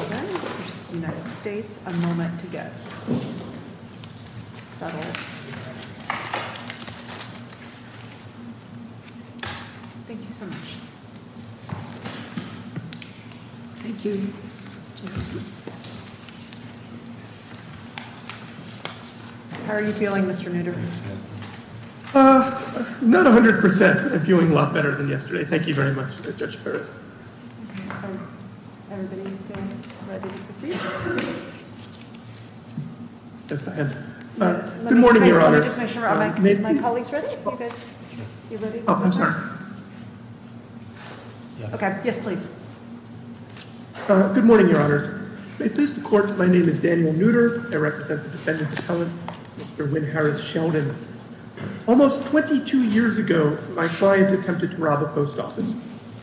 v. United States. A moment to get settled. Thank you so much. Thank you. How are you feeling, Mr. Nutter? Not 100%. I'm feeling a lot better than yesterday. Thank you very much, Judge Perez. Good morning, Your Honors. My name is Daniel Nutter. I represent the defendant appellant, Mr. Wynn Harris Sheldon. Almost 22 years ago, my client attempted to commit suicide.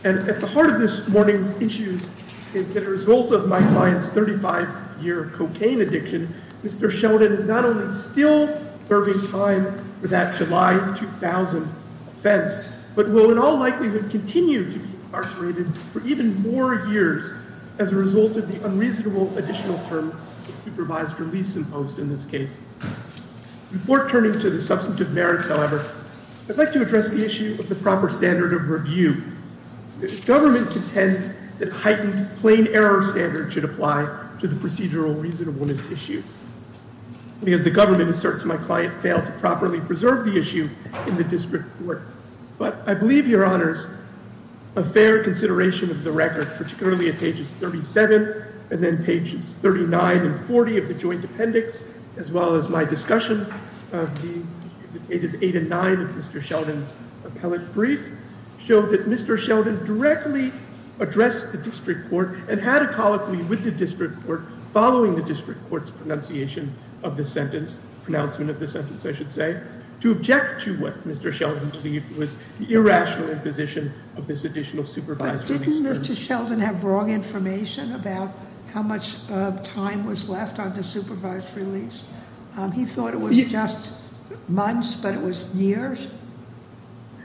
And at the heart of this morning's issues is that a result of my client's 35-year cocaine addiction, Mr. Sheldon is not only still serving time for that July 2000 offense, but will in all likelihood continue to be incarcerated for even more years as a result of the unreasonable additional term supervised release imposed in this case. Before turning to the substantive merits, however, I'd like to address the issue of the proper standard of review. The government contends that heightened plain error standards should apply to the procedural reasonableness issue. As the government asserts, my client failed to properly preserve the issue in the district court. But I believe, Your Honors, a fair consideration of the record, particularly at pages 37 and then pages 39 and 40 of the Mr. Sheldon directly addressed the district court and had a colloquy with the district court following the district court's pronunciation of the sentence, pronouncement of the sentence, I should say, to object to what Mr. Sheldon believed was the irrational imposition of this additional supervised release term. But didn't Mr. Sheldon have wrong information about how much time was left on the supervised release? He thought it was just months, but it was years.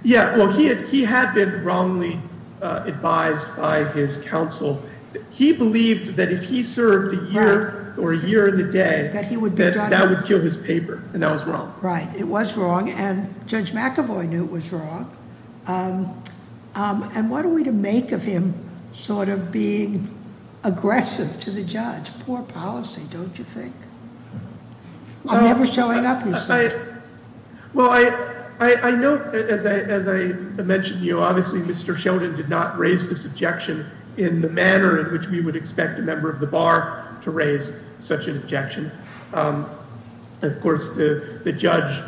Yeah, well, he had been wrongly advised by his counsel. He believed that if he served a year or a year in the day, that would kill his paper, and that was wrong. Right. It was wrong, and Judge McAvoy knew it was wrong. And what are we to make of him sort of being aggressive to the judge? Poor policy, don't you think? I'm never showing up, but I know, as I mentioned, obviously Mr. Sheldon did not raise this objection in the manner in which we would expect a member of the bar to raise such an objection. Of course, the judge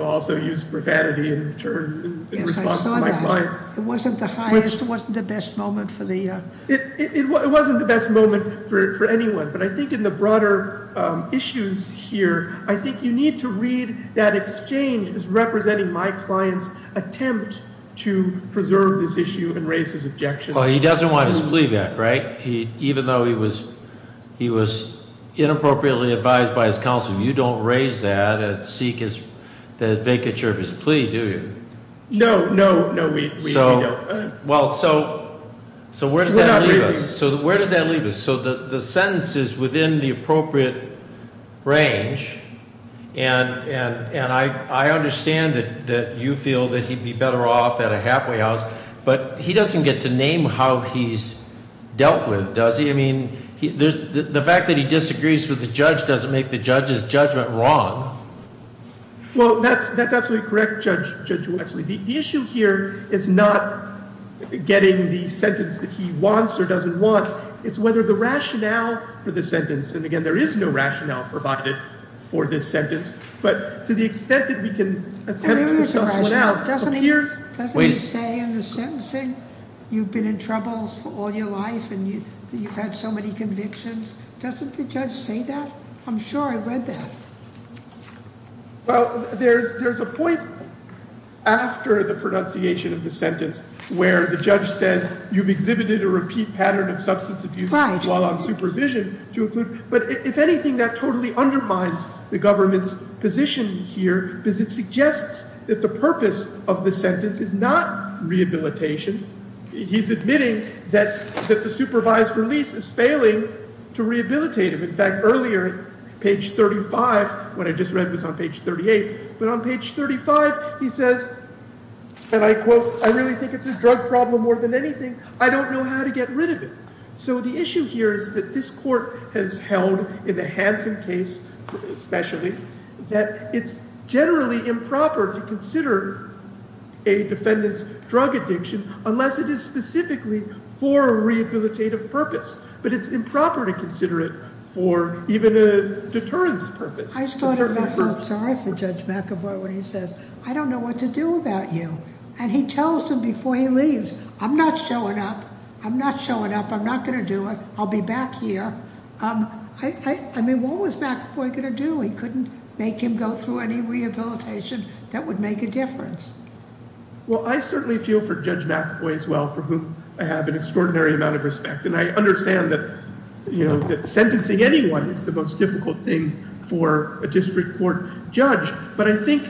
also used profanity in response to my client. Yes, I saw that. It wasn't the highest, it wasn't the best moment for the... It wasn't the best moment for anyone, but I think in the case of Mr. Sheldon, I need to read that exchange as representing my client's attempt to preserve this issue and raise his objection. Well, he doesn't want his plea back, right? Even though he was inappropriately advised by his counsel, you don't raise that and seek the vacature of his plea, do you? No, no, no, we don't. Well, so where does that leave us? So the sentence is within the appropriate range, and I understand that you feel that he'd be better off at a halfway house, but he doesn't get to name how he's dealt with, does he? I mean, the fact that he disagrees with the judge doesn't make the judge's judgment wrong. Well, that's absolutely correct, Judge Wesley. The issue here is not getting the sentence that he wants or doesn't want. It's whether the rationale for the sentence, and again, there is no rationale provided for this sentence, but to the extent that we can attempt to suss one out... Doesn't he say in the sentencing, you've been in trouble for all your life and you've had so many convictions? Doesn't the judge say that? I'm sure I've read that. Well, there's a point after the pronunciation of the sentence where the judge says, you've exhibited a repeat pattern of substance abuse while on supervision, but if anything, that totally undermines the government's position here because it suggests that the purpose of the sentence is not rehabilitation. He's admitting that the supervised release is failing to rehabilitate him. In fact, earlier, page 35, what I just read was on page 38, but on page 35, he says, and I quote, I really think it's a drug problem more than anything. I don't know how to get rid of it. So the issue here is that this court has held, in the Hanson case especially, that it's generally improper to consider a defendant's drug addiction unless it is specifically for a rehabilitative purpose, but it's improper to consider it for even a deterrence purpose. I just thought it felt sorry for Judge McAvoy when he says, I don't know what to do about you. And he tells him before he leaves, I'm not showing up. I'm not showing up. I'm not going to do it. I'll be back here. I mean, what was McAvoy going to do? He couldn't make him go through any rehabilitation that would make a difference. Well, I certainly feel for Judge McAvoy as well, for whom I have an extraordinary amount of respect, and I understand that sentencing anyone is the most difficult thing for a district court judge, but I think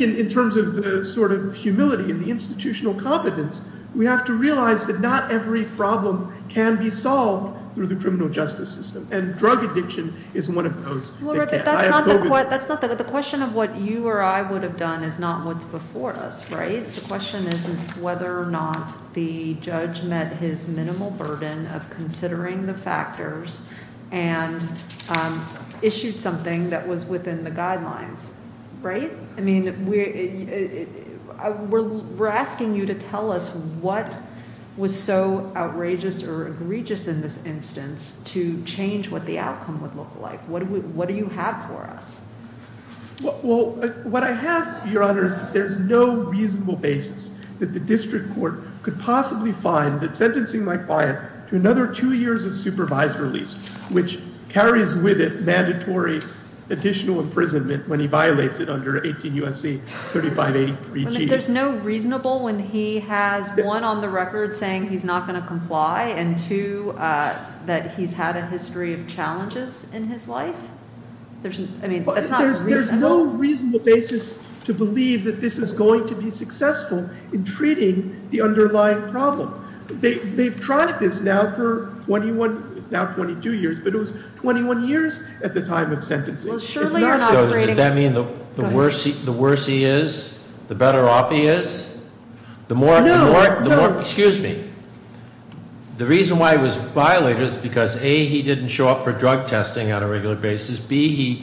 in terms of the sort of humility and the institutional competence, we have to realize that not every problem can be solved through the criminal justice system, and drug addiction is one of those. The question of what you or I would have done is not what's before us, right? The question is whether or not the judge met his minimal burden of considering the factors and issued something that was within the guidelines, right? I mean, we're asking you to tell us what was so outrageous or egregious in this instance to change what the outcome would look like. What do you have for us? Well, what I have, Your Honor, is that there's no reasonable basis that the district court could possibly find that sentencing my client to another two years of supervised release, which carries with it mandatory additional imprisonment when he violates it under 18 U.S.C. 3583G. There's no reasonable when he has one, on the record, saying he's not going to comply, and two, that he's had a history of challenges in his life? I mean, that's not reasonable. There's no reasonable basis to believe that this is going to be successful in treating the underlying problem. They've tried this now for 21, now 22 years, but it was 21 years at the time of sentencing. Does that mean the worse he is, the better off he is? The more, excuse me, the reason why he was violated is because A, he didn't show up for treatment, and B,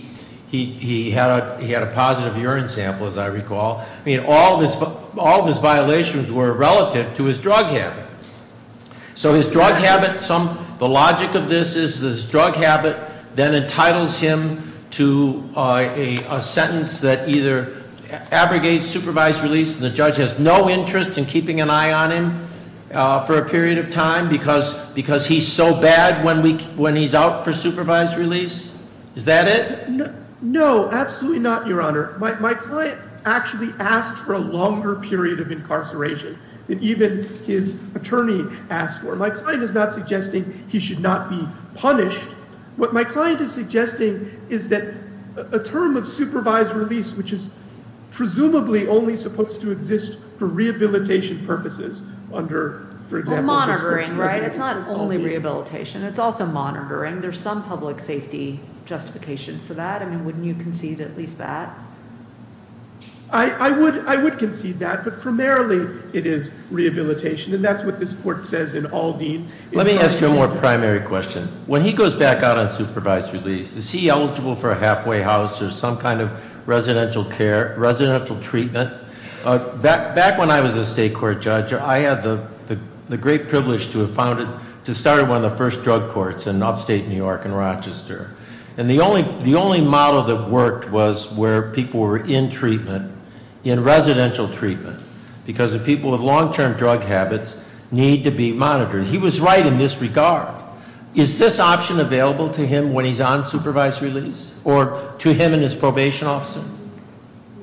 he had a positive urine sample, as I recall. I mean, all of his violations were relative to his drug habit. So his drug habit, the logic of this is his drug habit then entitles him to a sentence that either abrogates supervised release, and the judge has no interest in keeping an eye on him for a period of time because he's so bad when he's out for supervised release? Is that it? No, absolutely not, Your Honor. My client actually asked for a longer period of incarceration than even his attorney asked for. My client is not suggesting he should not be punished. What my client is suggesting is that a term of supervised release, which is not only rehabilitation, it's also monitoring. There's some public safety justification for that. I mean, wouldn't you concede at least that? I would concede that, but primarily it is rehabilitation, and that's what this court says in all deed. Let me ask you a more primary question. When he goes back out on supervised release, is he eligible for a halfway house or some kind of residential care, residential treatment? Back when I was a state court judge, I had the great privilege to have founded, to start one of the first drug courts in upstate New York in Rochester. And the only model that worked was where people were in treatment, in residential treatment, because the people with long term drug habits need to be monitored. He was right in this regard. Is this option available to him when he's on supervised release, or to him and his probation officer?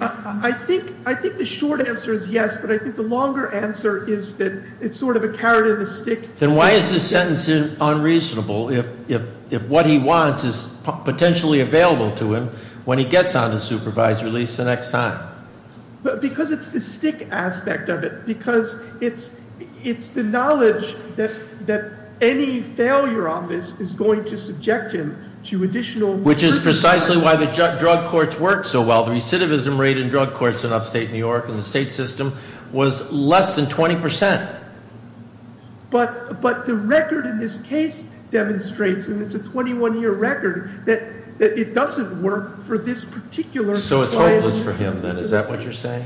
I think the short answer is yes, but I think the longer answer is that it's sort of a carrot and a stick. Then why is this sentence unreasonable if what he wants is potentially available to him when he gets on to supervised release the next time? Because it's the stick aspect of it. Because it's the knowledge that any failure on this is going to subject him to additional- Which is precisely why the drug courts work so well. The recidivism rate in drug courts in upstate New York in the state system was less than 20%. But the record in this case demonstrates, and it's a 21 year record, that it doesn't work for this particular client. So it's hopeless for him then, is that what you're saying?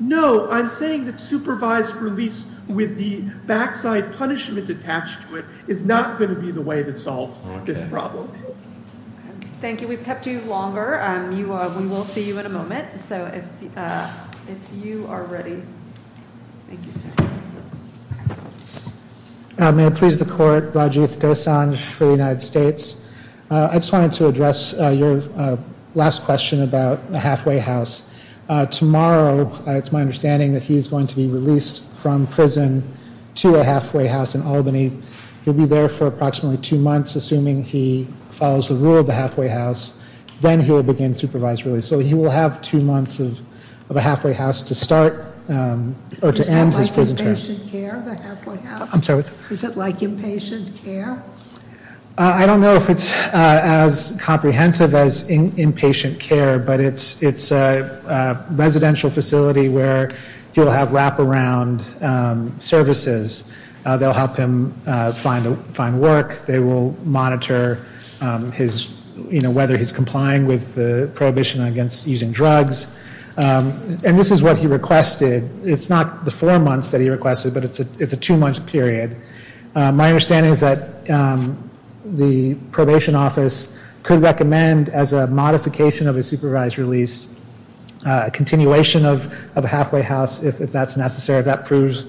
No, I'm saying that supervised release with the backside punishment attached to it is not going to be the way that solves this problem. Thank you. We've kept you longer. We will see you in a moment. So if you are ready. Thank you sir. May it please the court, Rajiv Dosanjh for the United States. I just wanted to address your last question about the halfway house. Tomorrow, it's my understanding that he's going to be released from prison to a halfway house in Albany. He'll be there for approximately two months, assuming he follows the rule of the halfway house. Then he will begin supervised release. So he will have two months of a halfway house to start or to end his prison term. Is it like inpatient care? I don't know if it's as comprehensive as inpatient care, but it's a residential facility where he'll have wraparound services. They'll help him find work. They will monitor whether he's complying with the prohibition against using drugs. And this is what he requested. It's not the four months that he requested, but it's a two month period. My understanding is that the probation office could recommend as a modification of a supervised release a continuation of a halfway house if that's necessary. If that proves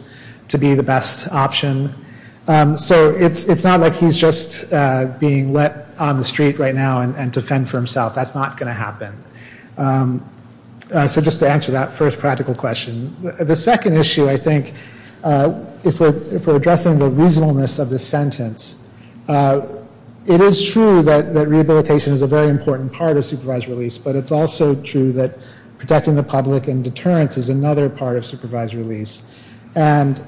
to be the best option. So it's not like he's just being let on the street right now and to fend for himself. That's not going to happen. The second issue, I think, if we're addressing the reasonableness of this sentence, it is true that rehabilitation is a very important part of supervised release, but it's also true that protecting the public and deterrence is another part of supervised release. And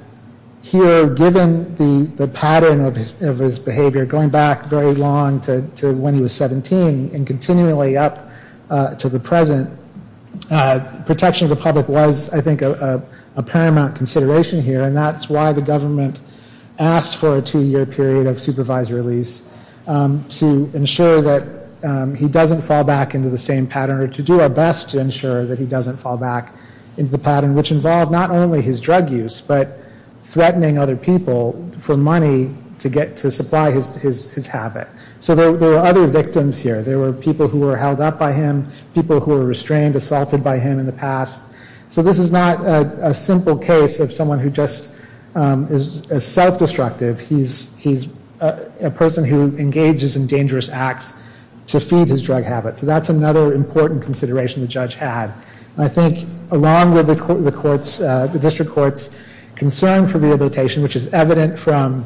here, given the pattern of his behavior going back very long to when he was 17 and continually up to the present, protection of the public was, I think, a paramount consideration here. And that's why the government asked for a two year period of supervised release to ensure that he doesn't fall back into the same pattern, or to do our best to ensure that he doesn't fall back into the pattern, which involved not only his drug use, but threatening other people for money to get to supply his habit. So there were other victims here. There were people who were held up by him, people who were restrained, assaulted by him in the past. So this is not a simple case of someone who just is self-destructive. He's a person who engages in dangerous acts to feed his drug habit. So that's another important consideration the judge had. I think, along with the court's, the district court's concern for rehabilitation, which is evident from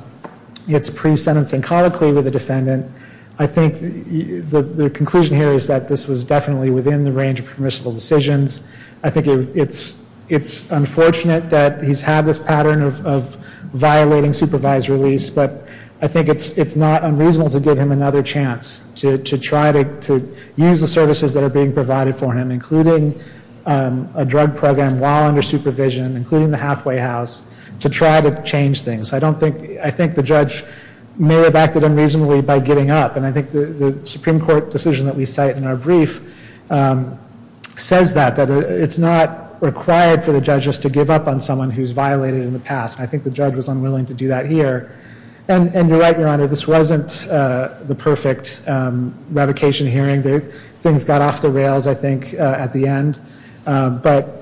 its pre-sentencing colloquy with the defendant, I think the conclusion here is that this was definitely within the range of permissible decisions. I think it's unfortunate that he's had this pattern of violating supervised release, but I think it's not unreasonable to give him another chance to try to use the services that are being provided for him, including a drug program while under supervision, including the halfway house, to try to change things. I don't think, I think the judge may have acted unreasonably by giving up. And I think the Supreme Court decision that we cite in our brief says that, that it's not required for the judge just to give up on someone who's violated in the past. And I think the judge was unwilling to do that here. And you're right, Your Honor, this wasn't the perfect revocation hearing. Things got off the rails, I think, at the end. But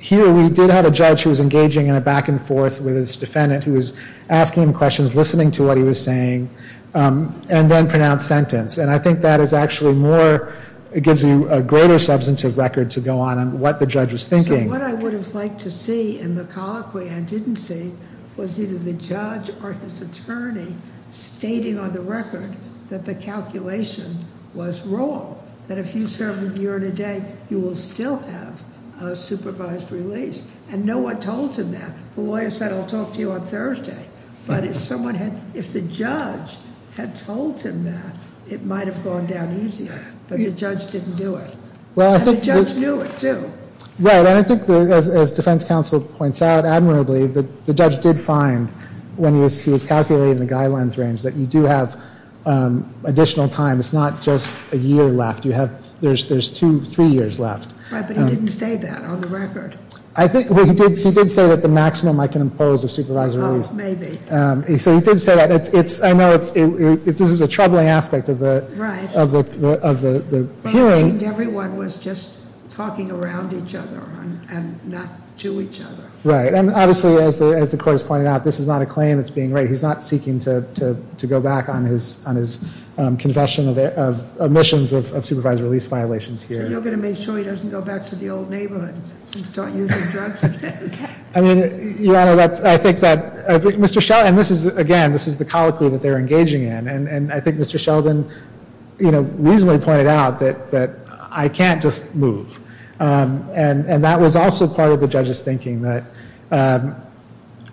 here we did have a judge who was engaging in a back and forth with his defendant, who was asking him questions, listening to what he was saying, and then pronounced sentence. And I think that is actually more, it gives you a greater substantive record to go on on what the judge was thinking. So what I would have liked to see in the colloquy I didn't see was either the judge or his attorney stating on the record that the calculation was wrong. That if you serve a year and a day, you will still have a supervised release. And no one told him that. The lawyer said, I'll talk to you on Thursday. But if someone had, if the judge had told him that, it might have gone down easier. But the judge didn't do it. And the judge knew it, too. Right, and I think as defense counsel points out, admirably, the judge did find, when he was calculating the guidelines range, that you do have additional time. It's not just a year left. You have, there's two, three years left. Right, but he didn't say that on the record. He did say that the maximum I can impose of supervised release. Maybe. So he did say that. I know this is a troubling aspect of the hearing. But it seemed everyone was just talking around each other and not to each other. Right, and obviously, as the court has pointed out, this is not a claim that's being made. He's not seeking to go back on his confession of omissions of supervised release violations here. You're going to make sure he doesn't go back to the old neighborhood and start using drugs again. I mean, Your Honor, I think that Mr. Sheldon, and this is, again, this is the colloquy that they're engaging in. And I think Mr. Sheldon, you know, reasonably pointed out that I can't just move. And that was also part of the judge's thinking, that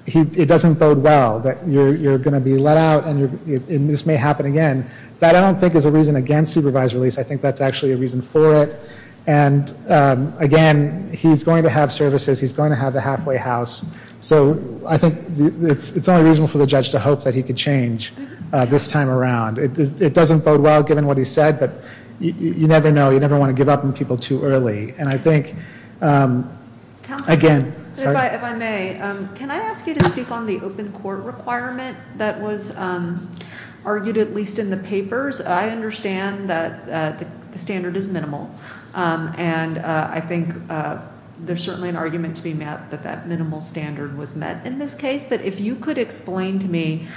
it doesn't bode well, that you're going to be let out and this may happen again. That, I don't think, is a reason against supervised release. I think that's actually a reason for it. And, again, he's going to have services. He's going to have the halfway house. So I think it's only reasonable for the judge to hope that he could change this time around. It doesn't bode well, given what he said, but you never know. You never want to give up on people too early. And I think, again, sorry. Counselor, if I may, can I ask you to speak on the open court requirement that was argued, at least in the papers? I understand that the standard is minimal. And I think there's certainly an argument to be met that that minimal standard was met in this case. But if you could explain to me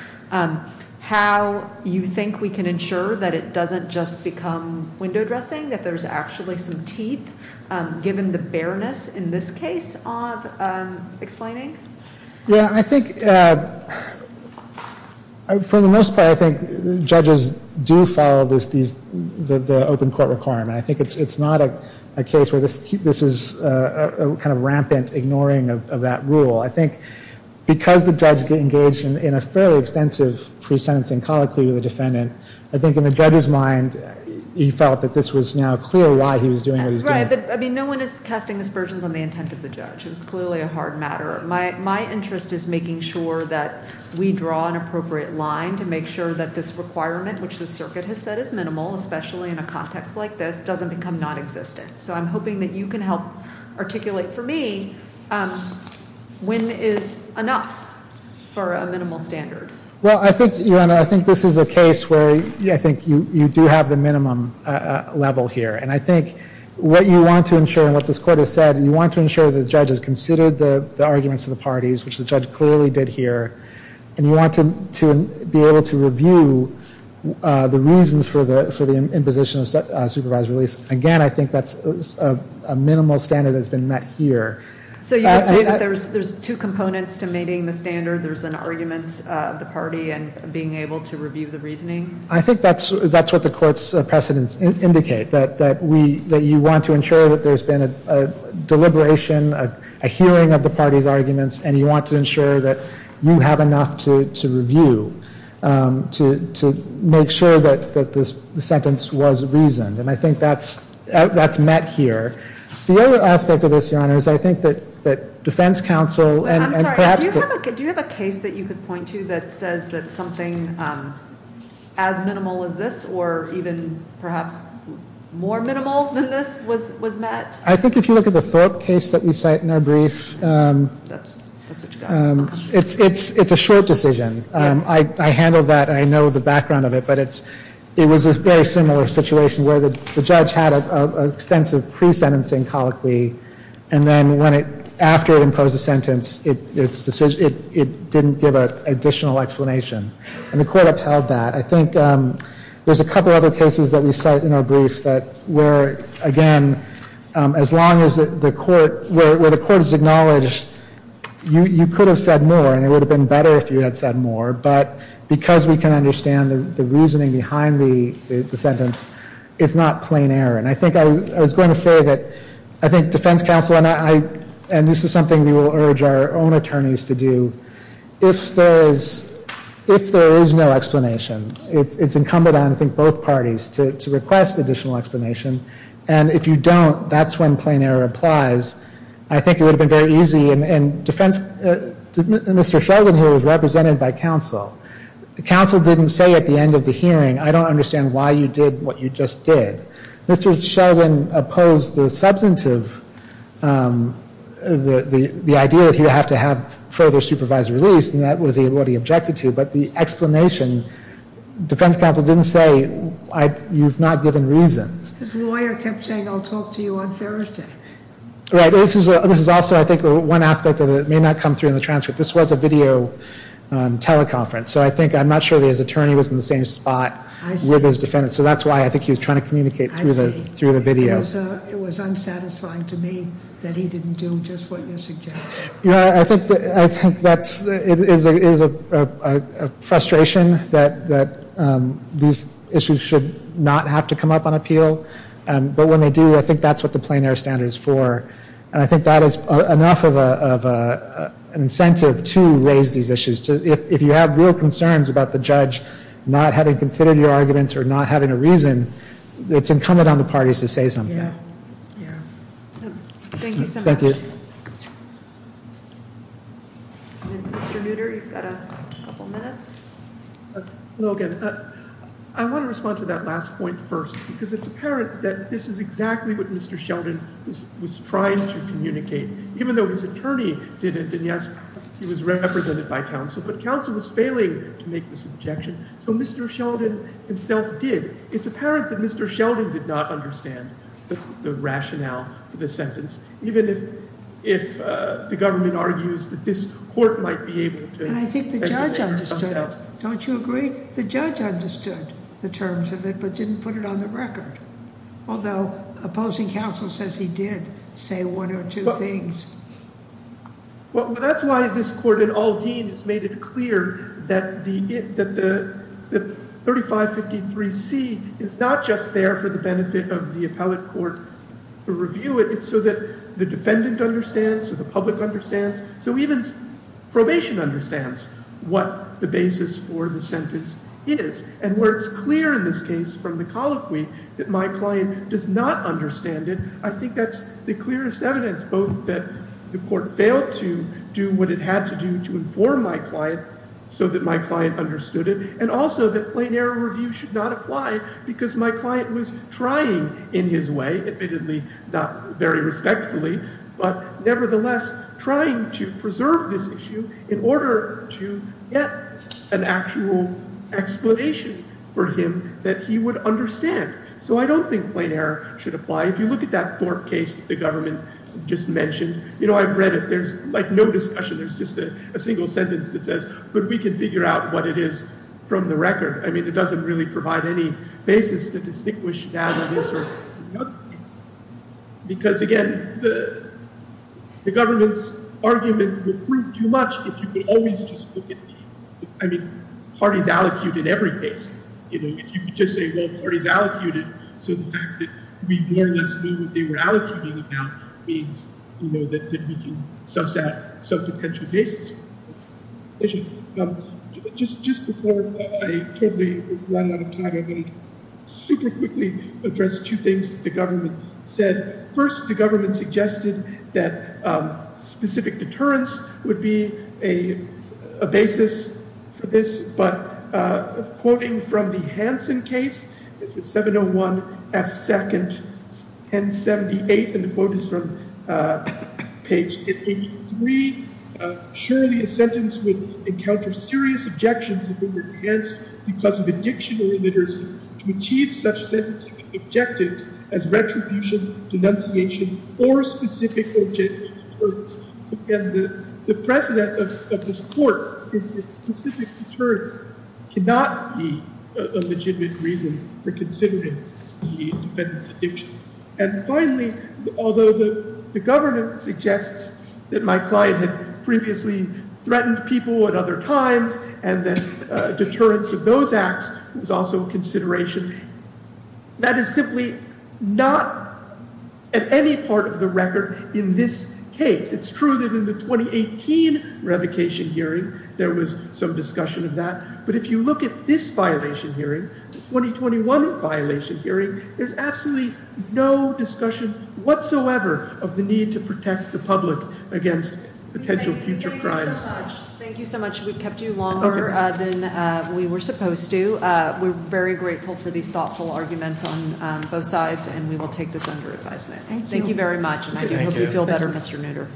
how you think we can ensure that it doesn't just become window dressing, that there's actually some teeth, given the bareness in this case of explaining? Yeah, I think, for the most part, I think judges do follow the open court requirement. I think it's not a case where this is a kind of rampant ignoring of that rule. I think because the judge engaged in a fairly extensive pre-sentencing colloquy with the defendant, I think in the judge's mind he felt that this was now clear why he was doing what he was doing. Right, but, I mean, no one is casting aspersions on the intent of the judge. It was clearly a hard matter. My interest is making sure that we draw an appropriate line to make sure that this requirement, which the circuit has said is minimal, especially in a context like this, doesn't become nonexistent. So I'm hoping that you can help articulate for me when is enough for a minimal standard. Well, I think, Your Honor, I think this is a case where I think you do have the minimum level here. And I think what you want to ensure and what this court has said, you want to ensure that the judge has considered the arguments of the parties, which the judge clearly did here, and you want to be able to review the reasons for the imposition of supervised release. Again, I think that's a minimal standard that's been met here. So you would say that there's two components to meeting the standard? There's an argument of the party and being able to review the reasoning? I think that's what the court's precedents indicate, that you want to ensure that there's been a deliberation, a hearing of the party's arguments, and you want to ensure that you have enough to review to make sure that the sentence was reasoned. And I think that's met here. The other aspect of this, Your Honor, is I think that defense counsel and perhaps the- as minimal as this or even perhaps more minimal than this was met? I think if you look at the Thorpe case that we cite in our brief, it's a short decision. I handled that and I know the background of it, but it was a very similar situation where the judge had an extensive pre-sentencing colloquy, and then after it imposed a sentence, it didn't give an additional explanation. And the court upheld that. I think there's a couple other cases that we cite in our brief that were, again, as long as the court- where the court has acknowledged you could have said more and it would have been better if you had said more, but because we can understand the reasoning behind the sentence, it's not plain error. And I think I was going to say that I think defense counsel and I- and this is something we will urge our own attorneys to do. If there is no explanation, it's incumbent on, I think, both parties to request additional explanation. And if you don't, that's when plain error applies. I think it would have been very easy and defense- Mr. Sheldon here was represented by counsel. The counsel didn't say at the end of the hearing, I don't understand why you did what you just did. Mr. Sheldon opposed the substantive- the idea that he would have to have further supervised release, and that was what he objected to. But the explanation, defense counsel didn't say, you've not given reasons. His lawyer kept saying, I'll talk to you on Thursday. Right. This is also, I think, one aspect that may not come through in the transcript. This was a video teleconference. So I think- I'm not sure that his attorney was in the same spot with his defendant. So that's why I think he was trying to communicate through the video. I see. It was unsatisfying to me that he didn't do just what you suggested. You know, I think that's- it is a frustration that these issues should not have to come up on appeal. But when they do, I think that's what the plain error standard is for. And I think that is enough of an incentive to raise these issues. If you have real concerns about the judge not having considered your arguments or not having a reason, it's incumbent on the parties to say something. Yeah. Yeah. Thank you so much. Thank you. Mr. Nutter, you've got a couple minutes. Logan, I want to respond to that last point first, because it's apparent that this is exactly what Mr. Sheldon was trying to communicate. Even though his attorney didn't, and, yes, he was represented by counsel, but counsel was failing to make this objection, so Mr. Sheldon himself did. It's apparent that Mr. Sheldon did not understand the rationale for this sentence, even if the government argues that this court might be able to- And I think the judge understood it. Don't you agree? The judge understood the terms of it but didn't put it on the record, although opposing counsel says he did say one or two things. Well, that's why this court in all deems made it clear that the 3553C is not just there for the benefit of the appellate court to review it. It's so that the defendant understands, so the public understands, so even probation understands what the basis for the sentence is and where it's clear in this case from the colloquy that my client does not understand it, I think that's the clearest evidence both that the court failed to do what it had to do to inform my client so that my client understood it and also that plain error review should not apply because my client was trying in his way, admittedly not very respectfully, but nevertheless trying to preserve this issue in order to get an actual explanation for him that he would understand. So I don't think plain error should apply. If you look at that Thorpe case the government just mentioned, you know, I've read it. There's like no discussion. There's just a single sentence that says, but we can figure out what it is from the record. I mean, it doesn't really provide any basis to distinguish that or this or the other case because, again, the government's argument would prove too much if you could always just look at the, I mean, parties allocute in every case. You know, if you could just say, well, parties allocated, so the fact that we more or less knew what they were allocuting about means, you know, that we can suss out some potential cases. Just before I totally run out of time, I want to super quickly address two things the government said. First, the government suggested that specific deterrence would be a basis for this, but quoting from the Hansen case, this is 701 F. 2nd, 1078, and the quote is from page 883. Surely a sentence would encounter serious objections if it were enhanced because of addiction or illiteracy to achieve such sentencing objectives as retribution, denunciation, or specific objective deterrence. So, again, the precedent of this court is that specific deterrence cannot be a legitimate reason for considering the defendant's addiction. And finally, although the government suggests that my client had previously threatened people at other times, and that deterrence of those acts was also a consideration, that is simply not at any part of the record in this case. It's true that in the 2018 revocation hearing there was some discussion of that, but if you look at this violation hearing, the 2021 violation hearing, there's absolutely no discussion whatsoever of the need to protect the public against potential future crimes. Thank you so much. We've kept you longer than we were supposed to. We're very grateful for these thoughtful arguments on both sides, and we will take this under advisement. Thank you very much, and I do hope you feel better, Mr. Nooter.